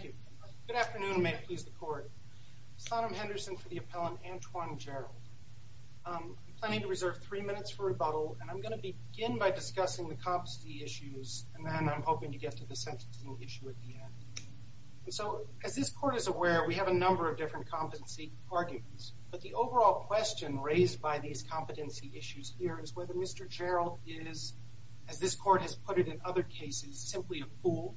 Good afternoon and may it please the court. Sonam Henderson for the appellant Antoine Gerald. I'm planning to reserve three minutes for rebuttal and I'm going to begin by discussing the competency issues and then I'm hoping to get to the sentencing issue at the end. So as this court is aware we have a number of different competency arguments but the overall question raised by these competency issues here is whether Mr. Gerald is, as this court has put it in other cases, simply a fool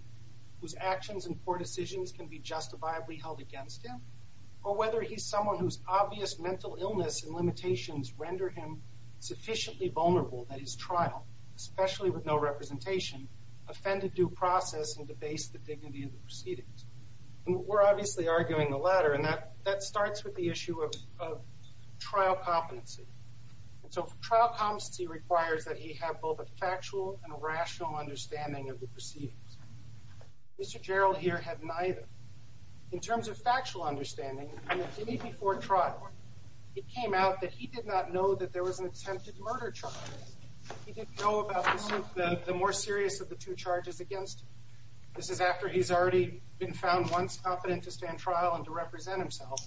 whose actions and poor decisions can be justifiably held against him or whether he's someone whose obvious mental illness and limitations render him sufficiently vulnerable that his trial, especially with no representation, offended due process and debased the dignity of the proceedings. And we're obviously arguing the latter and that that starts with the issue of trial competency. And so trial competency requires that he have both a factual understanding of the proceedings. Mr. Gerald here had neither. In terms of factual understanding, before trial, it came out that he did not know that there was an attempted murder charge. He didn't know about the more serious of the two charges against him. This is after he's already been found once competent to stand trial and to represent himself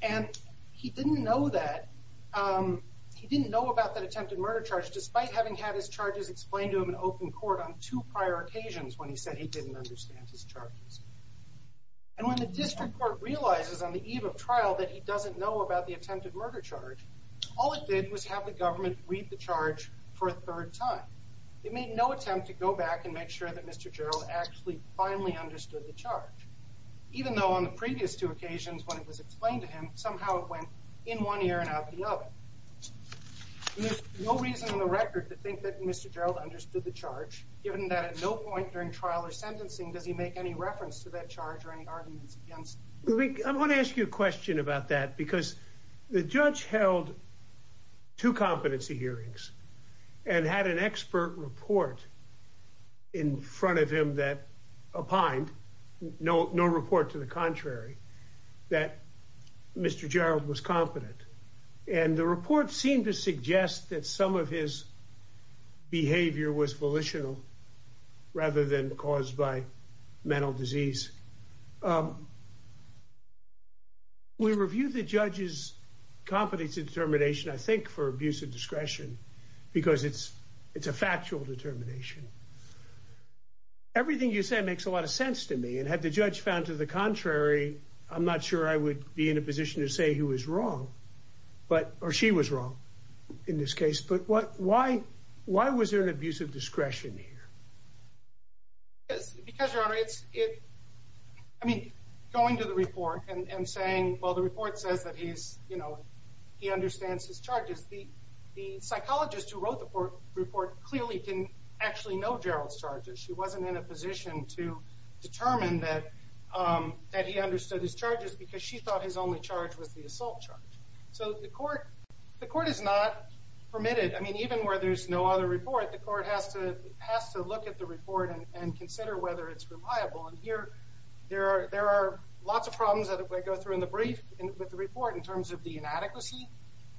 and he didn't know that. He didn't know about that attempted murder charge despite having had his charges explained to him in open court on two prior occasions when he said he didn't understand his charges. And when the district court realizes on the eve of trial that he doesn't know about the attempted murder charge, all it did was have the government read the charge for a third time. It made no attempt to go back and make sure that Mr. Gerald actually finally understood the charge, even though on the previous two occasions when it was explained to him, somehow it went in one ear and out the other. There's no reason in the record to think that Mr. Gerald understood the charge, given that at no point during trial or sentencing does he make any reference to that charge or any arguments against it. I want to ask you a question about that because the judge held two competency hearings and had an expert report in front of him that opined, no report to the contrary, that Mr. Gerald was competent. And the report seemed to suggest that some of his behavior was volitional rather than caused by mental disease. We reviewed the judge's competency determination, I think, for abuse of discretion because it's a factual determination. Everything you say makes a lot of sense to me. And had the judge found to the contrary, I'm not sure I would be in a position to say he was abusing discretion here. Yes, because, Your Honor, it's, I mean, going to the report and saying, well, the report says that he's, you know, he understands his charges. The psychologist who wrote the report clearly didn't actually know Gerald's charges. She wasn't in a position to determine that he understood his charges because she thought his only charge was the assault charge. So the court, the court is not permitted, I mean, even where there's no other report, the court has to, has to look at the report and consider whether it's reliable. And here, there are, there are lots of problems that go through in the brief with the report in terms of the inadequacy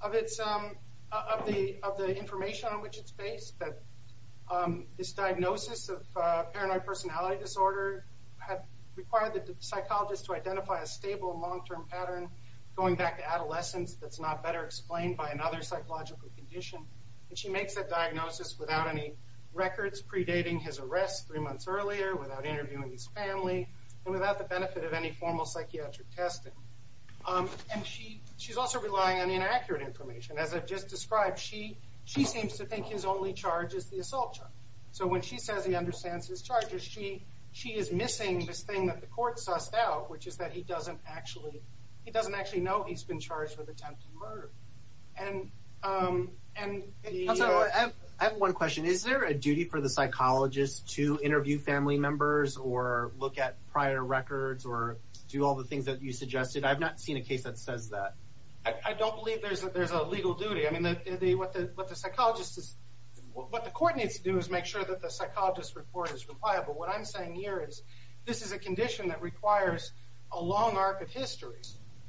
of its, of the, of the information on which it's based, that this diagnosis of paranoid personality disorder had required the psychologist to identify a stable long-term pattern going back to adolescence that's not better explained by another psychological condition. And she makes that diagnosis without any records predating his arrest three months earlier, without interviewing his family, and without the benefit of any formal psychiatric testing. And she, she's also relying on inaccurate information. As I've just described, she, she seems to think his only charge is the assault charge. So when she says he understands his charges, she, she is missing this thing that the court sussed out, which is that he doesn't actually, he doesn't actually know he's been charged with attempted murder. And, and the... I have, I have one question. Is there a duty for the psychologist to interview family members or look at prior records or do all the things that you suggested? I've not seen a case that says that. I, I don't believe there's a, there's a legal duty. I mean, the, the, what the, what the psychologist is, what the court needs to do is make sure that the psychologist's report is reliable. What I'm saying here is, this is a condition that requires a long arc of history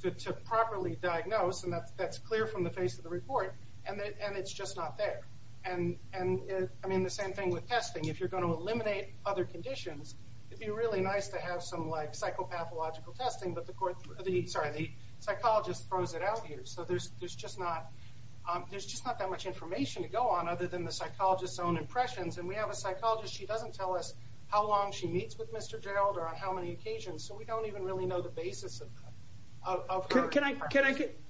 to, to properly diagnose, and that, that's clear from the face of the report, and it, and it's just not there. And, and it, I mean, the same thing with testing. If you're going to eliminate other conditions, it'd be really nice to have some, like, psychopathological testing, but the court, the, sorry, the psychologist throws it out here. So there's, there's just not, there's just not that much information to go on other than the psychologist's own impressions. And we have a psychologist, she doesn't tell us how long she meets with Mr. Gerald, or on how many occasions, so we don't even really know the basis of, of her. Can I, can I get,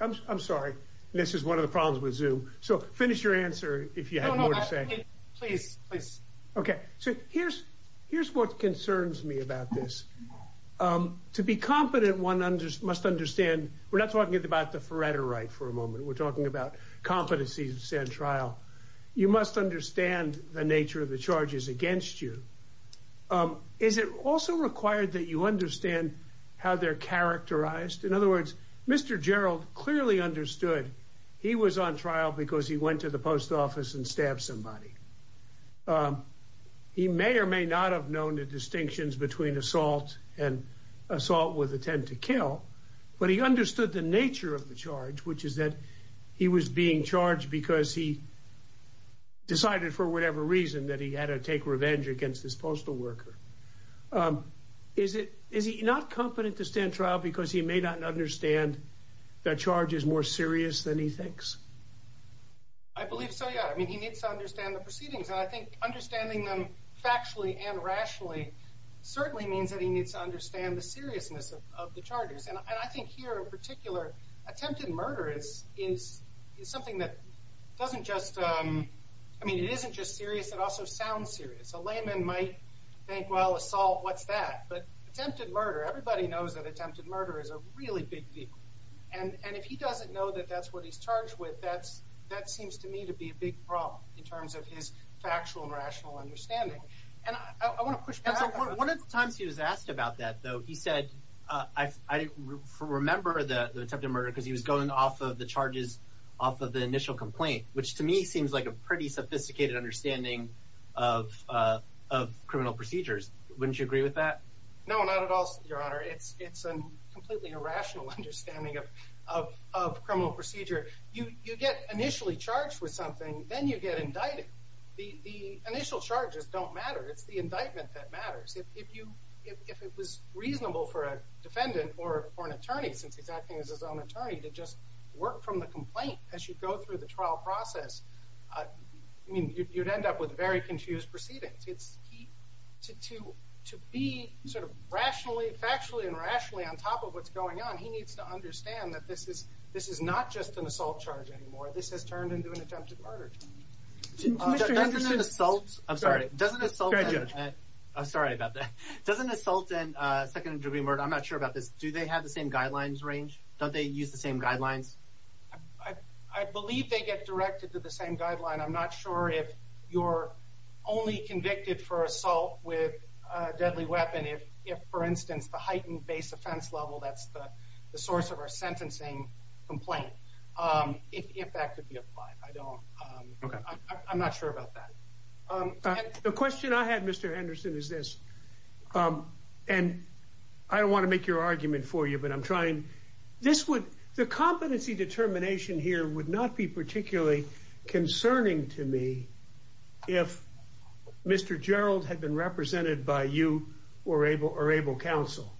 I'm, I'm sorry. This is one of the problems with Zoom. So, finish your answer, if you had more to say. No, no, I think, please, please. Okay. So here's, here's what concerns me about this. To be competent, one must understand, we're not talking about the phoretorite for a moment, we're talking about competency to stand trial. You must understand the nature of the charges against you. Is it also required that you understand how they're characterized? In other words, Mr. Gerald clearly understood he was on trial because he went to the post office and stabbed somebody. He may or may not have known the distinctions between assault and assault with intent to kill, but he understood the nature of the charge, which is that he was being charged because he decided for whatever reason that he had to take revenge against this postal worker. Is it, is he not competent to stand trial because he may not understand the charges more serious than he thinks? I believe so, yeah. I mean, he needs to understand the proceedings. And I think understanding them factually and rationally certainly means that he needs to understand the seriousness of, of the charges. And I think here in particular, attempted murder is, is, is something that doesn't just I mean, it isn't just serious, it also sounds serious. A layman might think, well, assault, what's that? But attempted murder, everybody knows that attempted murder is a really big deal. And, and if he doesn't know that that's what he's charged with, that's, that seems to me to be a big problem in terms of his factual and rational understanding. And I want to push back on that. One of the times he was asked about that, though, he said, I didn't remember the attempted murder because he was going off of the charges off of the initial complaint, which to me seems like a pretty sophisticated understanding of, of criminal procedures. Wouldn't you agree with that? No, not at all, Your Honor. It's, it's a completely irrational understanding of, of criminal procedure. You get initially charged with something, then you get indicted. The initial charges don't matter. It's the indictment that matters. If you, if it was reasonable for a defendant or an attorney, since he's acting as his own attorney to just work from the complaint as you go through the trial process, I mean, you'd end up with very confused proceedings. It's, to, to, to be sort of rationally, factually and rationally on top of what's going on, he needs to understand that this is, this is not just an assault charge anymore. This has turned into an attempted murder. Doesn't an assault, I'm sorry, doesn't assault, I'm sorry about that. Doesn't assault and second degree murder, I'm not sure about this, do they have the same guidelines range? Don't they use the same guidelines? I, I believe they get directed to the same guideline. I'm not sure if you're only convicted for assault with a deadly weapon. If, if, for instance, the heightened base offense level, that's the, the source of our sentencing complaint. If, if that could be applied, I don't, I'm not sure about that. The question I had, Mr. Henderson, is this, and I don't want to make your competency determination here would not be particularly concerning to me if Mr. Gerald had been represented by you or Abel, or Abel counsel.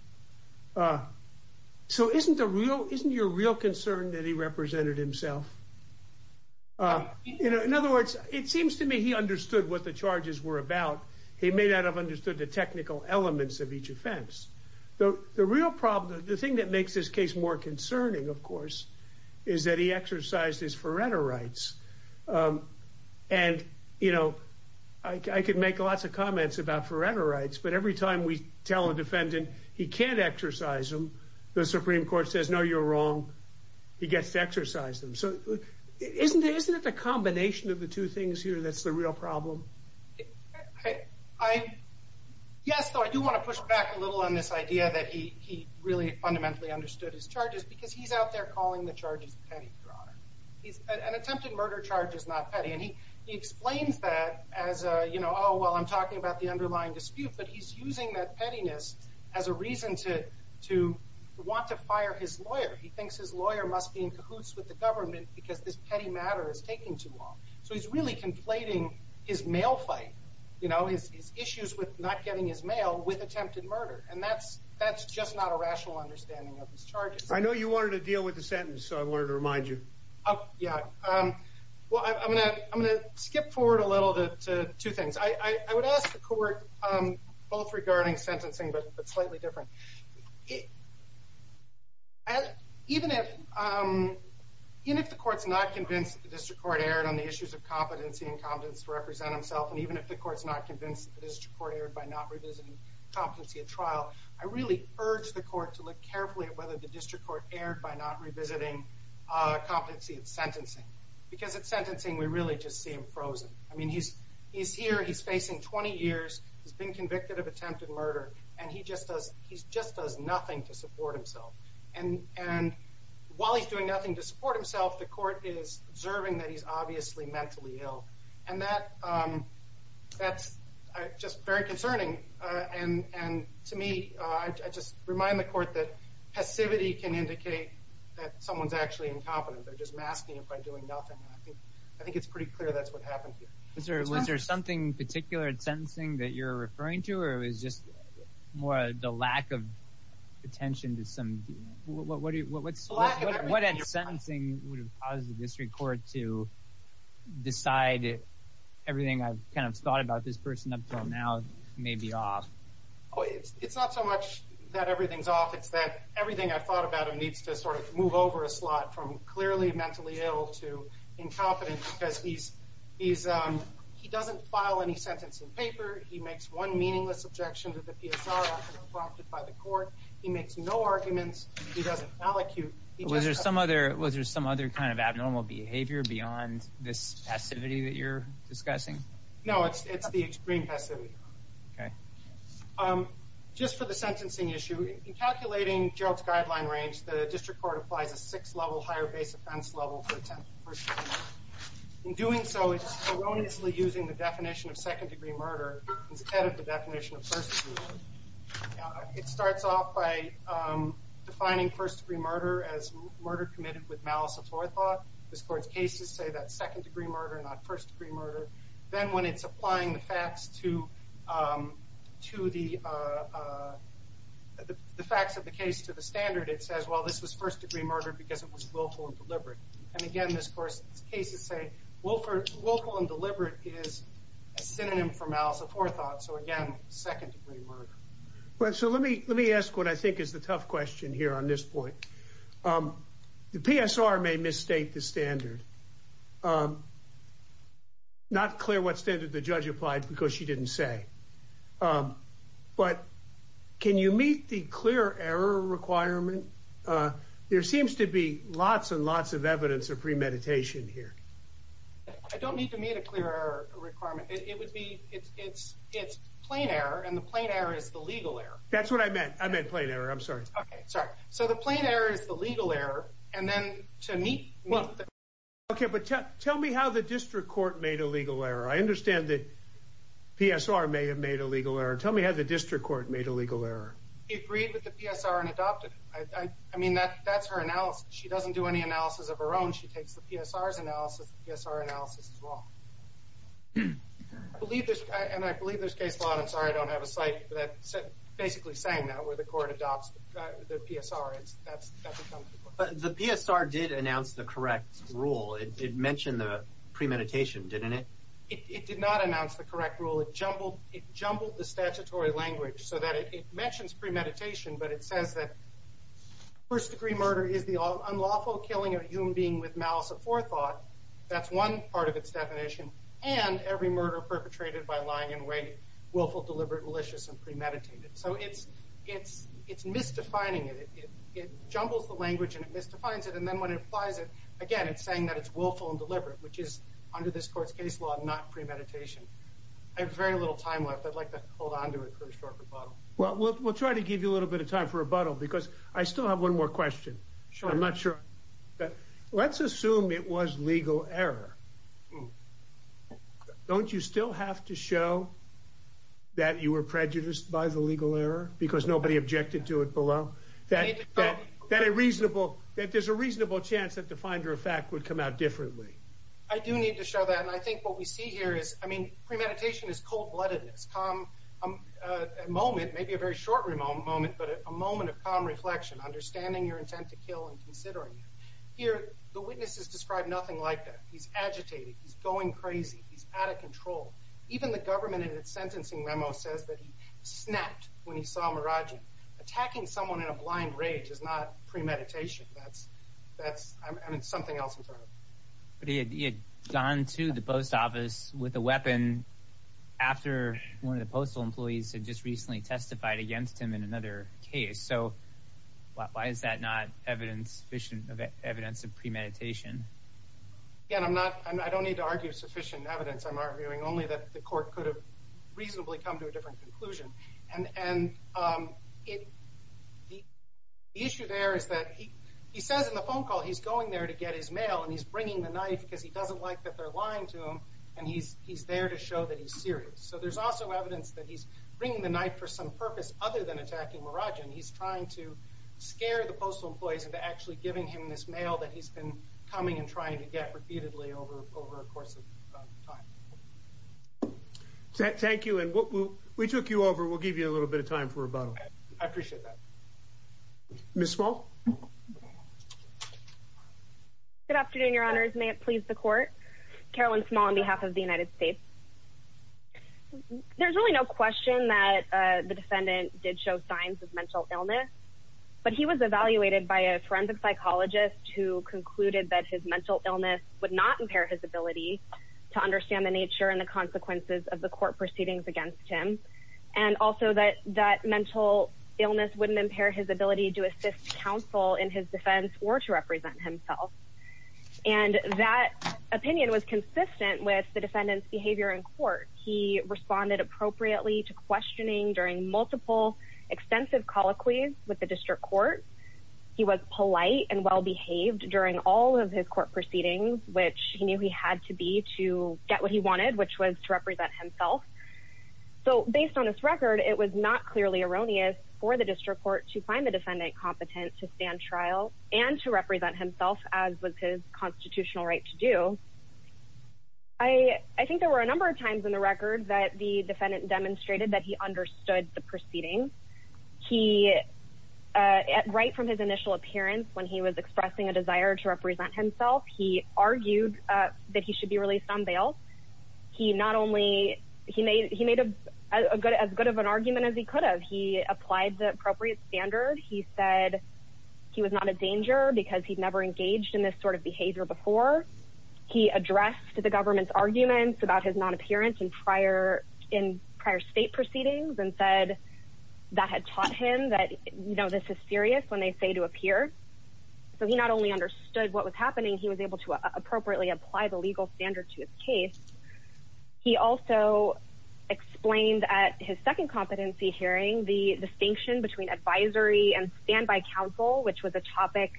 So isn't the real, isn't your real concern that he represented himself? In other words, it seems to me he understood what the charges were about. He may not have understood the technical elements of each offense. The, the real problem, the thing that makes this case more concerning, of course, is that he exercised his forerunner rights. Um, and, you know, I could make lots of comments about forerunner rights, but every time we tell a defendant he can't exercise them, the Supreme Court says, no, you're wrong. He gets to exercise them. So isn't it? Isn't it the combination of the two things here? That's the real problem. I, yes, I do want to push back a little on this idea that he really fundamentally understood his charges because he's out there calling the charges petty, Your Honor. He's, an attempted murder charge is not petty. And he, he explains that as a, you know, oh, well, I'm talking about the underlying dispute, but he's using that pettiness as a reason to, to want to fire his lawyer. He thinks his lawyer must be in cahoots with the government because this petty matter is taking too long. So he's really conflating his mail fight, you know, his, his issues with not getting his mail with attempted murder. And that's, that's just not a rational understanding of his charges. I know you wanted to deal with the sentence. So I wanted to remind you. Oh, yeah. Well, I'm going to, I'm going to skip forward a little bit to two things. I would ask the court both regarding sentencing, but slightly different. Even if, even if the court's not convinced that the district court erred on the issues of competency and competence to represent himself, and even if the court's not convinced that the district court erred by not revisiting competency at trial, I really urge the court to look carefully at whether the district court erred by not revisiting competency at sentencing. Because at sentencing, we really just see him frozen. I mean, he's, he's here, he's facing 20 years, he's been convicted of attempted murder, and he just does, he just does nothing to support himself. And, and while he's doing nothing to support himself, the court is observing that he's obviously mentally ill. And that, that's just very concerning. And, and to me, I just remind the court that passivity can indicate that someone's actually incompetent. They're just masking him by doing nothing. I think, I think it's pretty clear that's what happened here. Was there, was there something particular at sentencing that you're referring to, or it was just more the lack of attention to some, what, what, what, what, what, what at sentencing would have caused the district court to decide everything I've kind of thought about this person up until now may be off? Oh, it's, it's not so much that everything's off. It's that everything I've thought about him needs to sort of move over a slot from clearly mentally ill to incompetent because he's, he's, he doesn't file any sentence in paper. He makes one meaningless objection to the PSR after being prompted by the court. He makes no arguments. He doesn't allocute. Was there some other, was there some other kind of abnormal behavior beyond this passivity that you're discussing? No, it's, it's the extreme passivity. Okay. Just for the sentencing issue, in calculating Gerald's guideline range, the district court applies a six level higher base offense level for the first degree murder. In doing so, it's erroneously using the definition of second degree murder instead of the definition of first degree murder as murder committed with malice of forethought. This court's cases say that second degree murder, not first degree murder. Then when it's applying the facts to, to the, the facts of the case to the standard, it says, well, this was first degree murder because it was willful and deliberate. And again, this course cases say, willful and deliberate is a synonym for malice of forethought. So again, second degree murder. So let me, let me ask what I think is the tough question here on this point. The PSR may misstate the standard. Not clear what standard the judge applied because she didn't say. But can you meet the clear error requirement? There seems to be lots and lots of evidence of premeditation here. I don't need to meet a clear error requirement. It would be, it's, it's, it's plain error and the plain error is the legal error. That's what I I'm sorry. Okay. Sorry. So the plain error is the legal error. And then to meet. Okay. But tell me how the district court made a legal error. I understand that PSR may have made a legal error. Tell me how the district court made a legal error. He agreed with the PSR and adopted it. I mean, that that's her analysis. She doesn't do any analysis of her own. She takes the PSR analysis, PSR analysis as well. I believe this, and I believe there's case law. I'm sorry. I don't have a site that said basically saying that where the court adopts the PSR. It's that's, that's. The PSR did announce the correct rule. It mentioned the premeditation, didn't it? It did not announce the correct rule. It jumbled, it jumbled the statutory language so that it mentions premeditation, but it says that first degree murder is the unlawful killing of a human being with malice of forethought. That's one part of its definition. And every murder perpetrated by lying and waiting, willful, deliberate, malicious, and premeditated. So it's, it's, it's misdefining it. It jumbles the language and it misdefines it. And then when it applies it again, it's saying that it's willful and deliberate, which is under this court's case law, not premeditation. I have very little time left. I'd like to hold on to it for a short rebuttal. Well, we'll, we'll try to give you a little bit of time for a rebuttal because I still have one more question. I'm not sure. Let's assume it was legal error. Hmm. Don't you still have to show that you were prejudiced by the legal error because nobody objected to it below that, that, that a reasonable, that there's a reasonable chance that the finder of fact would come out differently. I do need to show that. And I think what we see here is, I mean, premeditation is cold-bloodedness, calm, a moment, maybe a very short moment, but a moment of calm reflection, understanding your intent to kill and considering it. Here, the witnesses described nothing like that. He's agitated. He's going crazy. He's out of control. Even the government in its sentencing memo says that he snapped when he saw Muradji attacking someone in a blind rage is not premeditation. That's, that's, I mean, something else. But he had gone to the post office with a weapon after one of the postal employees had just recently testified against him in another case. So why is that not evidence sufficient of evidence of premeditation? Again, I'm not, I don't need to argue sufficient evidence. I'm arguing only that the court could have reasonably come to a different conclusion. And, and it, the issue there is that he, he says in the phone call, he's going there to get his mail and he's bringing the knife because he doesn't like that they're lying to him. And he's, he's there to show that he's serious. So there's also evidence that he's bringing the knife for some purpose other than attacking Muradji. And he's trying to scare the postal employees and actually giving him this mail that he's been coming and trying to get repeatedly over, over a course of time. Thank you. And we took you over. We'll give you a little bit of time for rebuttal. I appreciate that. Ms. Small. Good afternoon, your honors. May it please the court. Carolyn Small on behalf of the United States. There's really no question that the defendant did show signs of mental illness, but he was evaluated by a forensic psychologist who concluded that his mental illness would not impair his ability to understand the nature and the consequences of the court proceedings against him. And also that, that mental illness wouldn't impair his ability to assist counsel in his defense or to represent himself. And that opinion was consistent with the defendant's behavior in with the district court. He was polite and well-behaved during all of his court proceedings, which he knew he had to be to get what he wanted, which was to represent himself. So based on his record, it was not clearly erroneous for the district court to find the defendant competent to stand trial and to represent himself as with his constitutional right to do. I, I think there were a number of times in the record that the defendant demonstrated that he understood the proceedings. He, right from his initial appearance, when he was expressing a desire to represent himself, he argued that he should be released on bail. He not only, he made, he made a good, as good of an argument as he could have. He applied the appropriate standard. He said he was not a danger because he'd never engaged in this sort of behavior before. He addressed the government's arguments about his non-appearance in prior, in prior state proceedings and said that had taught him that, you know, this is serious when they say to appear. So he not only understood what was happening, he was able to appropriately apply the legal standard to his case. He also explained at his second competency hearing the distinction between advisory and standby counsel, which was a topic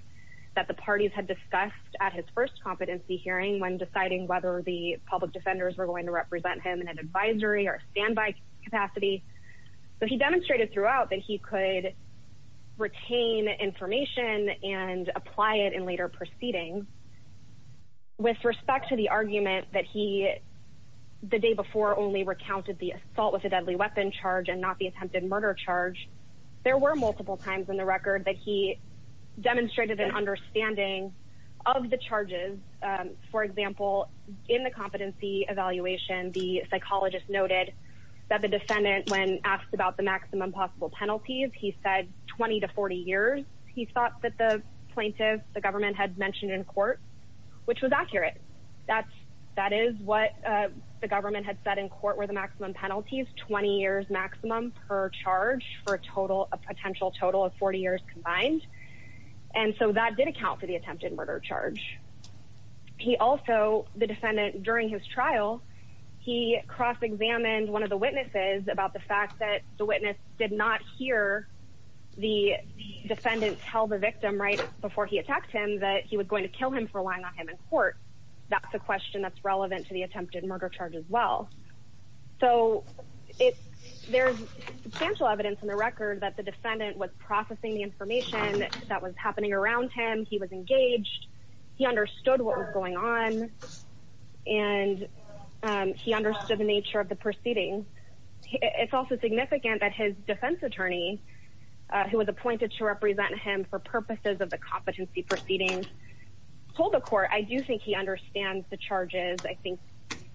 that the parties had discussed at his first competency hearing when deciding whether the public defenders were going to capacity. But he demonstrated throughout that he could retain information and apply it in later proceedings with respect to the argument that he, the day before only recounted the assault with a deadly weapon charge and not the attempted murder charge. There were multiple times in the record that he demonstrated an understanding of the charges. For example, in the competency evaluation, the psychologist noted that the defendant, when asked about the maximum possible penalties, he said 20 to 40 years. He thought that the plaintiff, the government had mentioned in court, which was accurate. That's, that is what the government had said in court were the maximum penalties, 20 years maximum per charge for a total, a potential total of 40 years combined. And so that did account for the attempted murder charge. He also, the defendant during his trial, he cross-examined one of the witnesses about the fact that the witness did not hear the defendant tell the victim right before he attacked him that he was going to kill him for lying on him in court. That's a question that's relevant to the attempted murder charge as well. So it, there's substantial evidence in the record that the defendant was processing the information that was happening around him. He was engaged. He understood what was going on and he understood the nature of the proceeding. It's also significant that his defense attorney, who was appointed to represent him for purposes of the competency proceedings, told the court, I do think he understands the charges. I think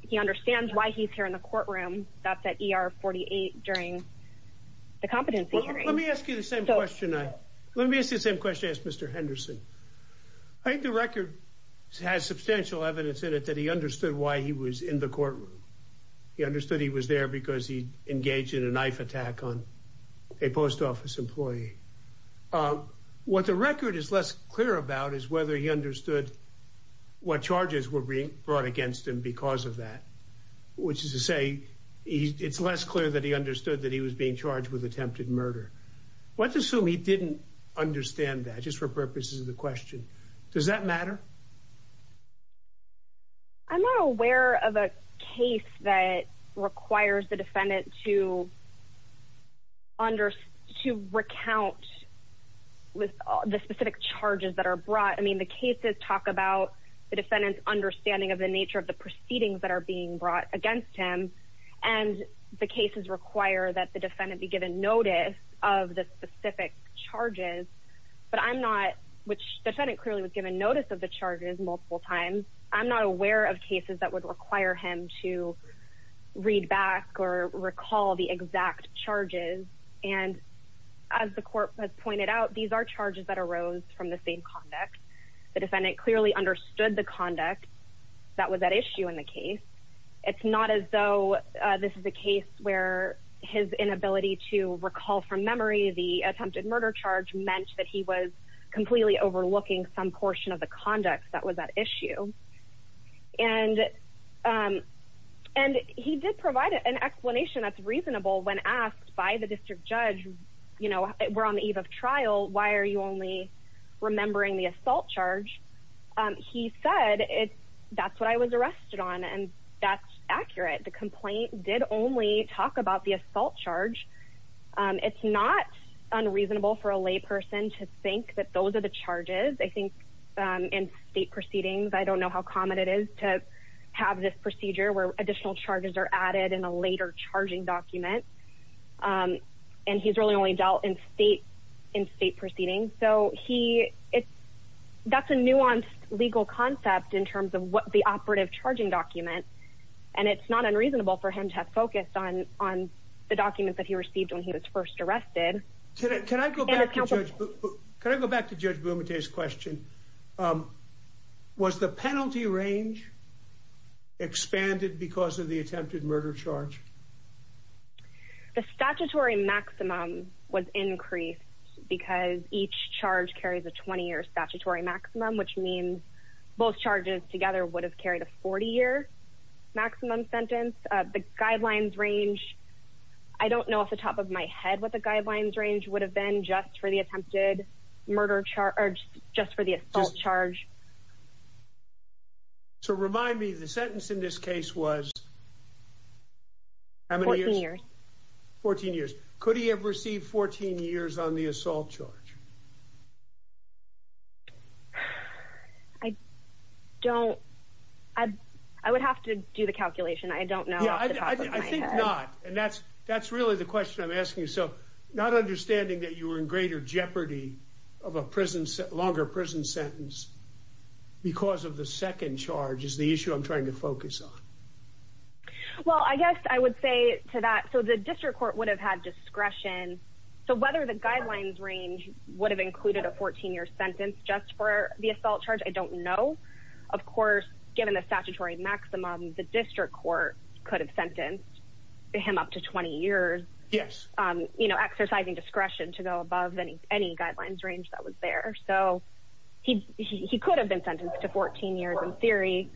he understands why he's here in the courtroom. That's at ER 48 during the competency hearing. Let me ask you the same question. Let me ask you the same question, Mr. Henderson. I think the record has substantial evidence in it that he understood why he was in the courtroom. He understood he was there because he engaged in a knife attack on a post office employee. What the record is less clear about is whether he understood what charges were being brought against him because of that, which is to say, it's less clear that he understood that he was being charged with attempted murder. Let's assume he didn't understand that just for purposes of the question. Does that matter? I'm not aware of a case that requires the defendant to under, to recount with the specific charges that are brought. I mean, the cases talk about the defendant's understanding of the nature of the proceedings that are being brought against him and the cases require that the defendant be given notice of the specific charges, but I'm not, which the defendant clearly was given notice of the charges multiple times, I'm not aware of cases that would require him to read back or recall the exact charges. And as the court has pointed out, these are charges that arose from the same conduct. The defendant clearly understood the conduct that was at issue in the case. It's not as though this is a case where his inability to recall from memory the attempted murder charge meant that he was completely overlooking some portion of the conduct that was at issue. And he did provide an explanation that's reasonable when asked by the district judge, you know, we're on the eve of trial, why are you only remembering the assault charge? He said, that's what I was arrested on. And that's accurate. The complaint did only talk about the assault charge. It's not unreasonable for a lay person to think that those are the charges. I think in state proceedings, I don't know how common it is to have this procedure where additional charges are added in a later charging document. And he's really only dealt in state proceedings. So that's a nuanced legal concept in terms of what the operative charging document. And it's not unreasonable for him to have focused on the documents that he received when he was first arrested. Can I go back to Judge Bumate's question? Was the penalty range expanded because of the attempted murder charge? The statutory maximum was increased because each charge carries a 20-year statutory maximum, which means both charges together would have carried a 40-year maximum sentence. The guidelines range, I don't know off the top of my head what the guidelines range would have been just for the attempted murder charge, or just for the assault charge. So remind me, the sentence in this case was how many years? 14 years. 14 years. Could he have received 14 years on the assault charge? I don't. I would have to do the calculation. I don't know. Yeah, I think not. And that's really the question I'm asking. So not understanding that you were in greater jeopardy of a longer prison sentence because of the second charge is the issue I'm trying to focus on. Well, I guess I would say to that, so the district court would have had discretion. So whether the guidelines range would have included a 14-year sentence just for the assault charge, I don't know. Of course, given the statutory maximum, the district court could have sentenced him up to 20 years. Yes. Exercising discretion to go above any guidelines range that was there. So he could have been sentenced to 14 years in theory.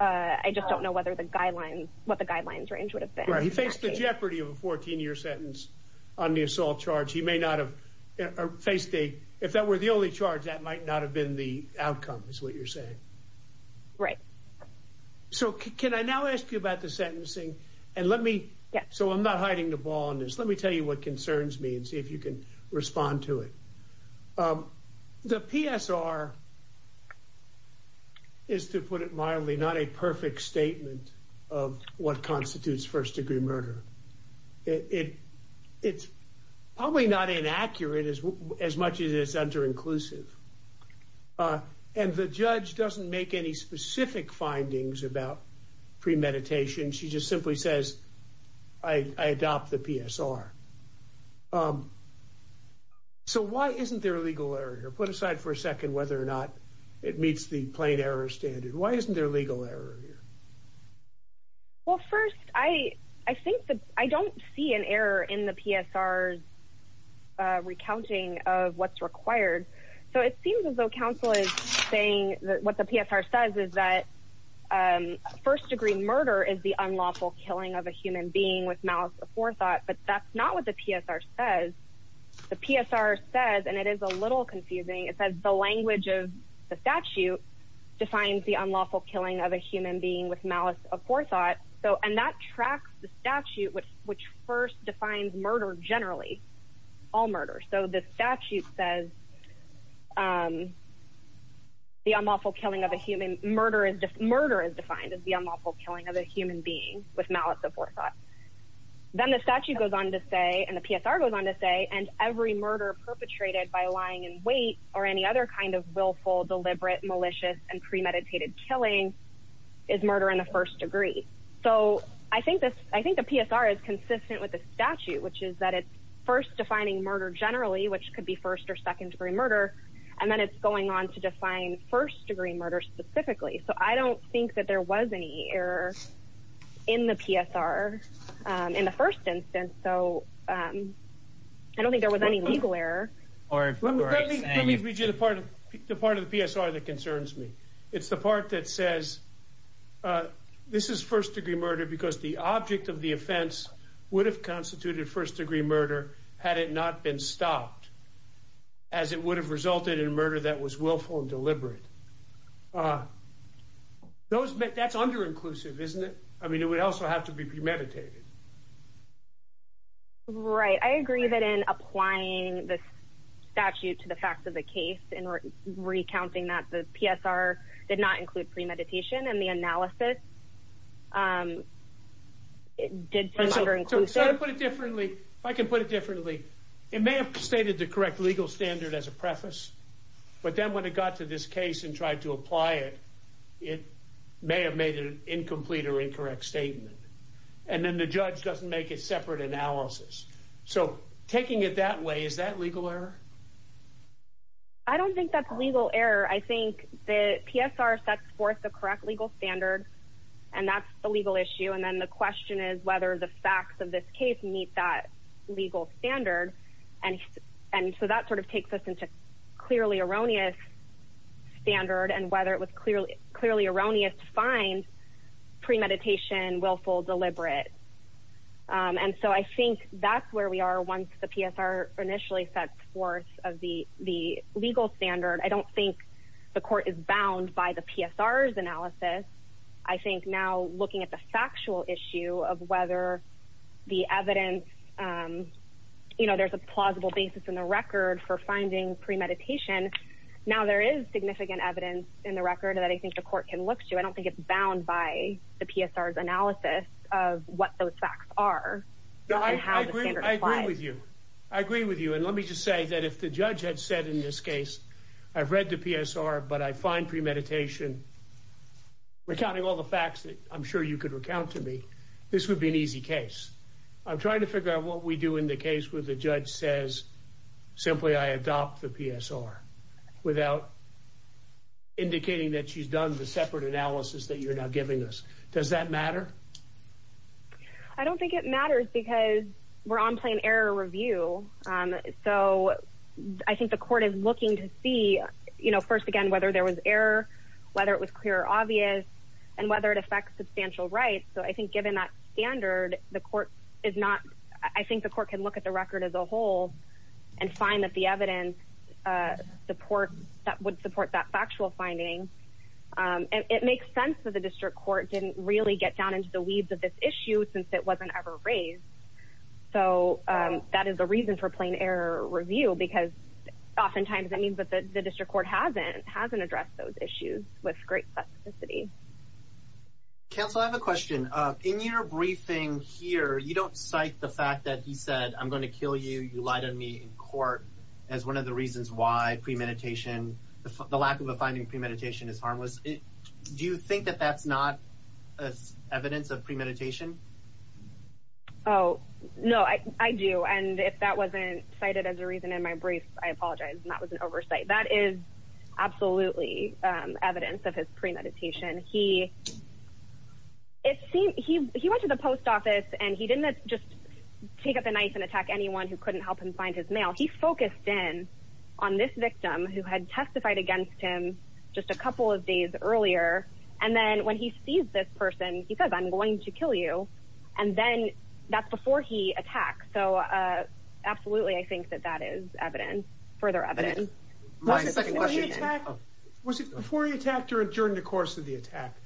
I just don't know whether the guidelines, what the guidelines range would have been. He faced the jeopardy of a 14-year sentence on the assault charge. He may not have faced a, if that were the only charge, that might not have been the outcome is what you're saying. Right. So can I now ask you about the sentencing? And let me, so I'm not hiding the ball on this. Let me tell you what concerns me and see if you can respond to it. The PSR is to put it mildly, not a perfect statement of what constitutes first degree murder. It's probably not inaccurate as much as it's under inclusive. And the judge doesn't make any specific findings about premeditation. She just simply says, I adopt the PSR. So why isn't there a legal error here? Put aside for a second whether or not it meets the plain error standard. Why isn't there a legal error here? Well, first, I think that I don't see an error in the PSR's recounting of what's required. So it seems as though counsel is saying that what the PSR says is that first degree murder is the unlawful killing of a human being with malice of forethought, but that's not what the PSR says. The PSR says, and it is a little confusing. It says the language of the statute defines the unlawful killing of a human being with malice of forethought. So, and that tracks the statute, which first defines murder generally, all murders. So the statute says that the unlawful killing of a human murder is defined as the unlawful killing of a human being with malice of forethought. Then the statute goes on to say, and the PSR goes on to say, and every murder perpetrated by lying in wait or any other kind of willful, deliberate, malicious and premeditated killing is murder in the first degree. So I think the PSR is consistent with the statute, which is that it's first defining murder generally, which could be first or second degree murder. And then it's going on to define first degree murder specifically. So I don't think that there was any error in the PSR in the first instance. So I don't think there was any legal error. Let me read you the part of the PSR that concerns me. It's the part that says this is first degree murder because the object of the offense would have constituted first degree murder had it not been stopped, as it would have resulted in murder that was willful and deliberate. That's under-inclusive, isn't it? I mean, it would also have to be premeditated. Right. I agree that in applying the statute to the facts of the case and recounting that the PSR did not include premeditation and the analysis did seem under-inclusive. So to put it differently, if I can put it differently, it may have stated the correct legal standard as a preface. But then when it got to this case and tried to apply it, it may have made an incomplete or incorrect statement. And then the judge doesn't make a separate analysis. So taking it that way, is that legal error? I don't think that's legal error. I think the PSR sets forth the correct legal standard and that's the legal issue. And then the question is whether the facts of this case meet that legal standard. And so that sort of takes us into clearly erroneous standard and whether it was clearly erroneous to find premeditation, willful, deliberate. And so I think that's where we are once the PSR initially sets forth of the legal standard. I don't think the court is bound by the PSR's analysis. I think now looking at the factual issue of whether the evidence, you know, there's a plausible basis in the record for finding premeditation. Now there is significant evidence in the record that I think the court can look to. I don't think it's bound by the PSR's analysis of what those facts are. I agree with you. I agree with you. And let me just say that if the judge had said in this case, I've read the PSR but I find premeditation, recounting all the facts that I'm sure you could recount to me, this would be an easy case. I'm trying to figure out what we do in the case where the judge says simply I adopt the PSR without indicating that she's done the separate analysis that you're now giving us. Does that matter? I don't think it matters because we're on plain error review. So I think the court is looking to see, you know, first again, whether there was error, whether it was clear or obvious and whether it affects substantial rights. So I think given that standard, the court is not, I think the court can look at the record as a whole and find that the evidence support that would support that the weeds of this issue since it wasn't ever raised. So that is a reason for plain error review because oftentimes that means that the district court hasn't addressed those issues with great specificity. Counsel, I have a question. In your briefing here, you don't cite the fact that he said, I'm going to kill you. You lied to me in court as one of the reasons why premeditation, the lack of a finding premeditation is harmless. Do you think that that's not evidence of premeditation? Oh, no, I do. And if that wasn't cited as a reason in my brief, I apologize. And that was an oversight. That is absolutely evidence of his premeditation. He, it seemed he, he went to the post office and he didn't just take up a knife and attack anyone who couldn't help him find his mail. He focused in on this victim who had testified against him just a couple of days earlier. And then when he sees this person, he says, I'm going to kill you. And then that's before he attacks. So, uh, absolutely. I think that that is evidence further evidence. Was it before he attacked her during the course of the attack?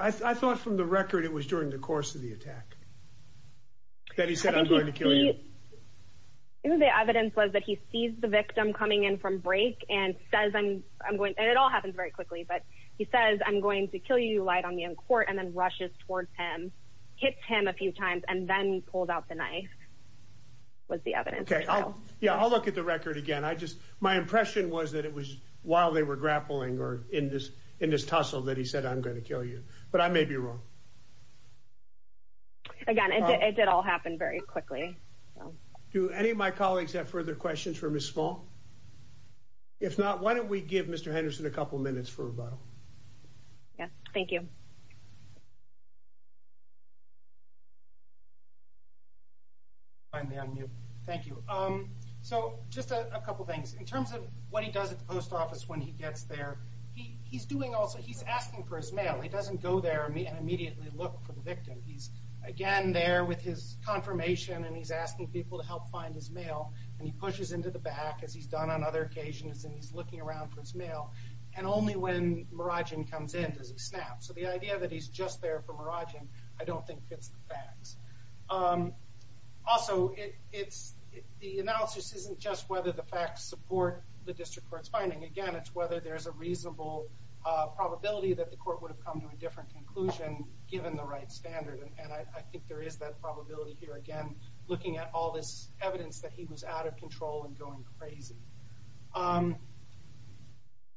I thought from the record, it was during the course of the attack that he said, I'm going to kill you. The evidence was that he sees the victim coming in from break and says, I'm, and it all happens very quickly, but he says, I'm going to kill you light on the end court. And then rushes towards him, hits him a few times and then pulled out the knife was the evidence. Yeah. I'll look at the record again. I just, my impression was that it was while they were grappling or in this, in this tussle that he said, I'm going to kill you, but I may be wrong. Again, it did all happen very quickly. Do any of my colleagues have further questions for Ms. Small? If not, why don't we give Mr. Henderson a couple of minutes for a rebuttal? Yeah. Thank you. Thank you. Um, so just a couple of things in terms of what he does at the post office. When he gets there, he he's doing also, he's asking for his mail. He doesn't go there and immediately look for the victim. He's again there with his confirmation and he's asking people to help find his mail and he pushes into the back as he's done on other occasions. And he's looking around for his mail and only when Marajan comes in, does he snap. So the idea that he's just there for Marajan, I don't think fits the facts. Um, also it it's the analysis isn't just whether the facts support the district court's finding again, it's whether there's a reasonable probability that the court would have come to a different conclusion given the right standard. And I think there is that probability here again, looking at all this evidence that he was out of control and going crazy. Um,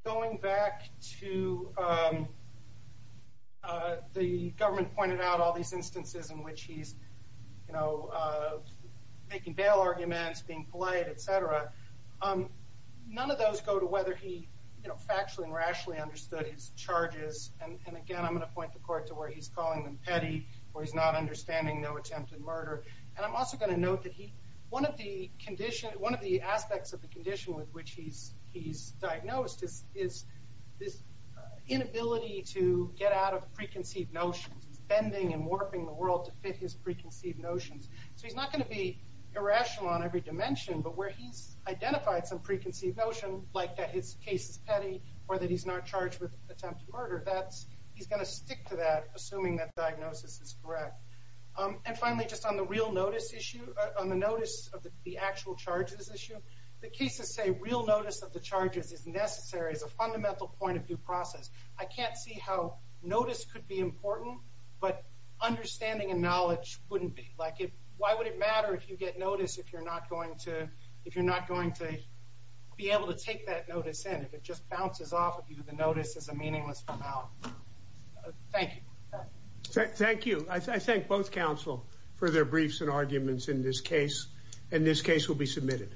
going back to, um, uh, the government pointed out all these instances in which he's, you know, uh, making bail arguments, being polite, et cetera. Um, none of those go to whether he factually and rationally understood his charges. And again, I'm going to point the where he's not understanding no attempted murder. And I'm also going to note that he, one of the condition, one of the aspects of the condition with which he's, he's diagnosed is, is this inability to get out of preconceived notions, bending and warping the world to fit his preconceived notions. So he's not going to be irrational on every dimension, but where he's identified some preconceived notion, like that his case is petty or that he's not charged with diagnosis is correct. Um, and finally, just on the real notice issue on the notice of the actual charges issue, the cases say real notice of the charges is necessary as a fundamental point of view process. I can't see how notice could be important, but understanding and knowledge wouldn't be like it. Why would it matter if you get notice, if you're not going to, if you're not going to be able to take that notice in, if it just bounces off of you, the notice is a meaningless amount. Thank you. Thank you. I thank both counsel for their briefs and arguments in this case, and this case will be submitted.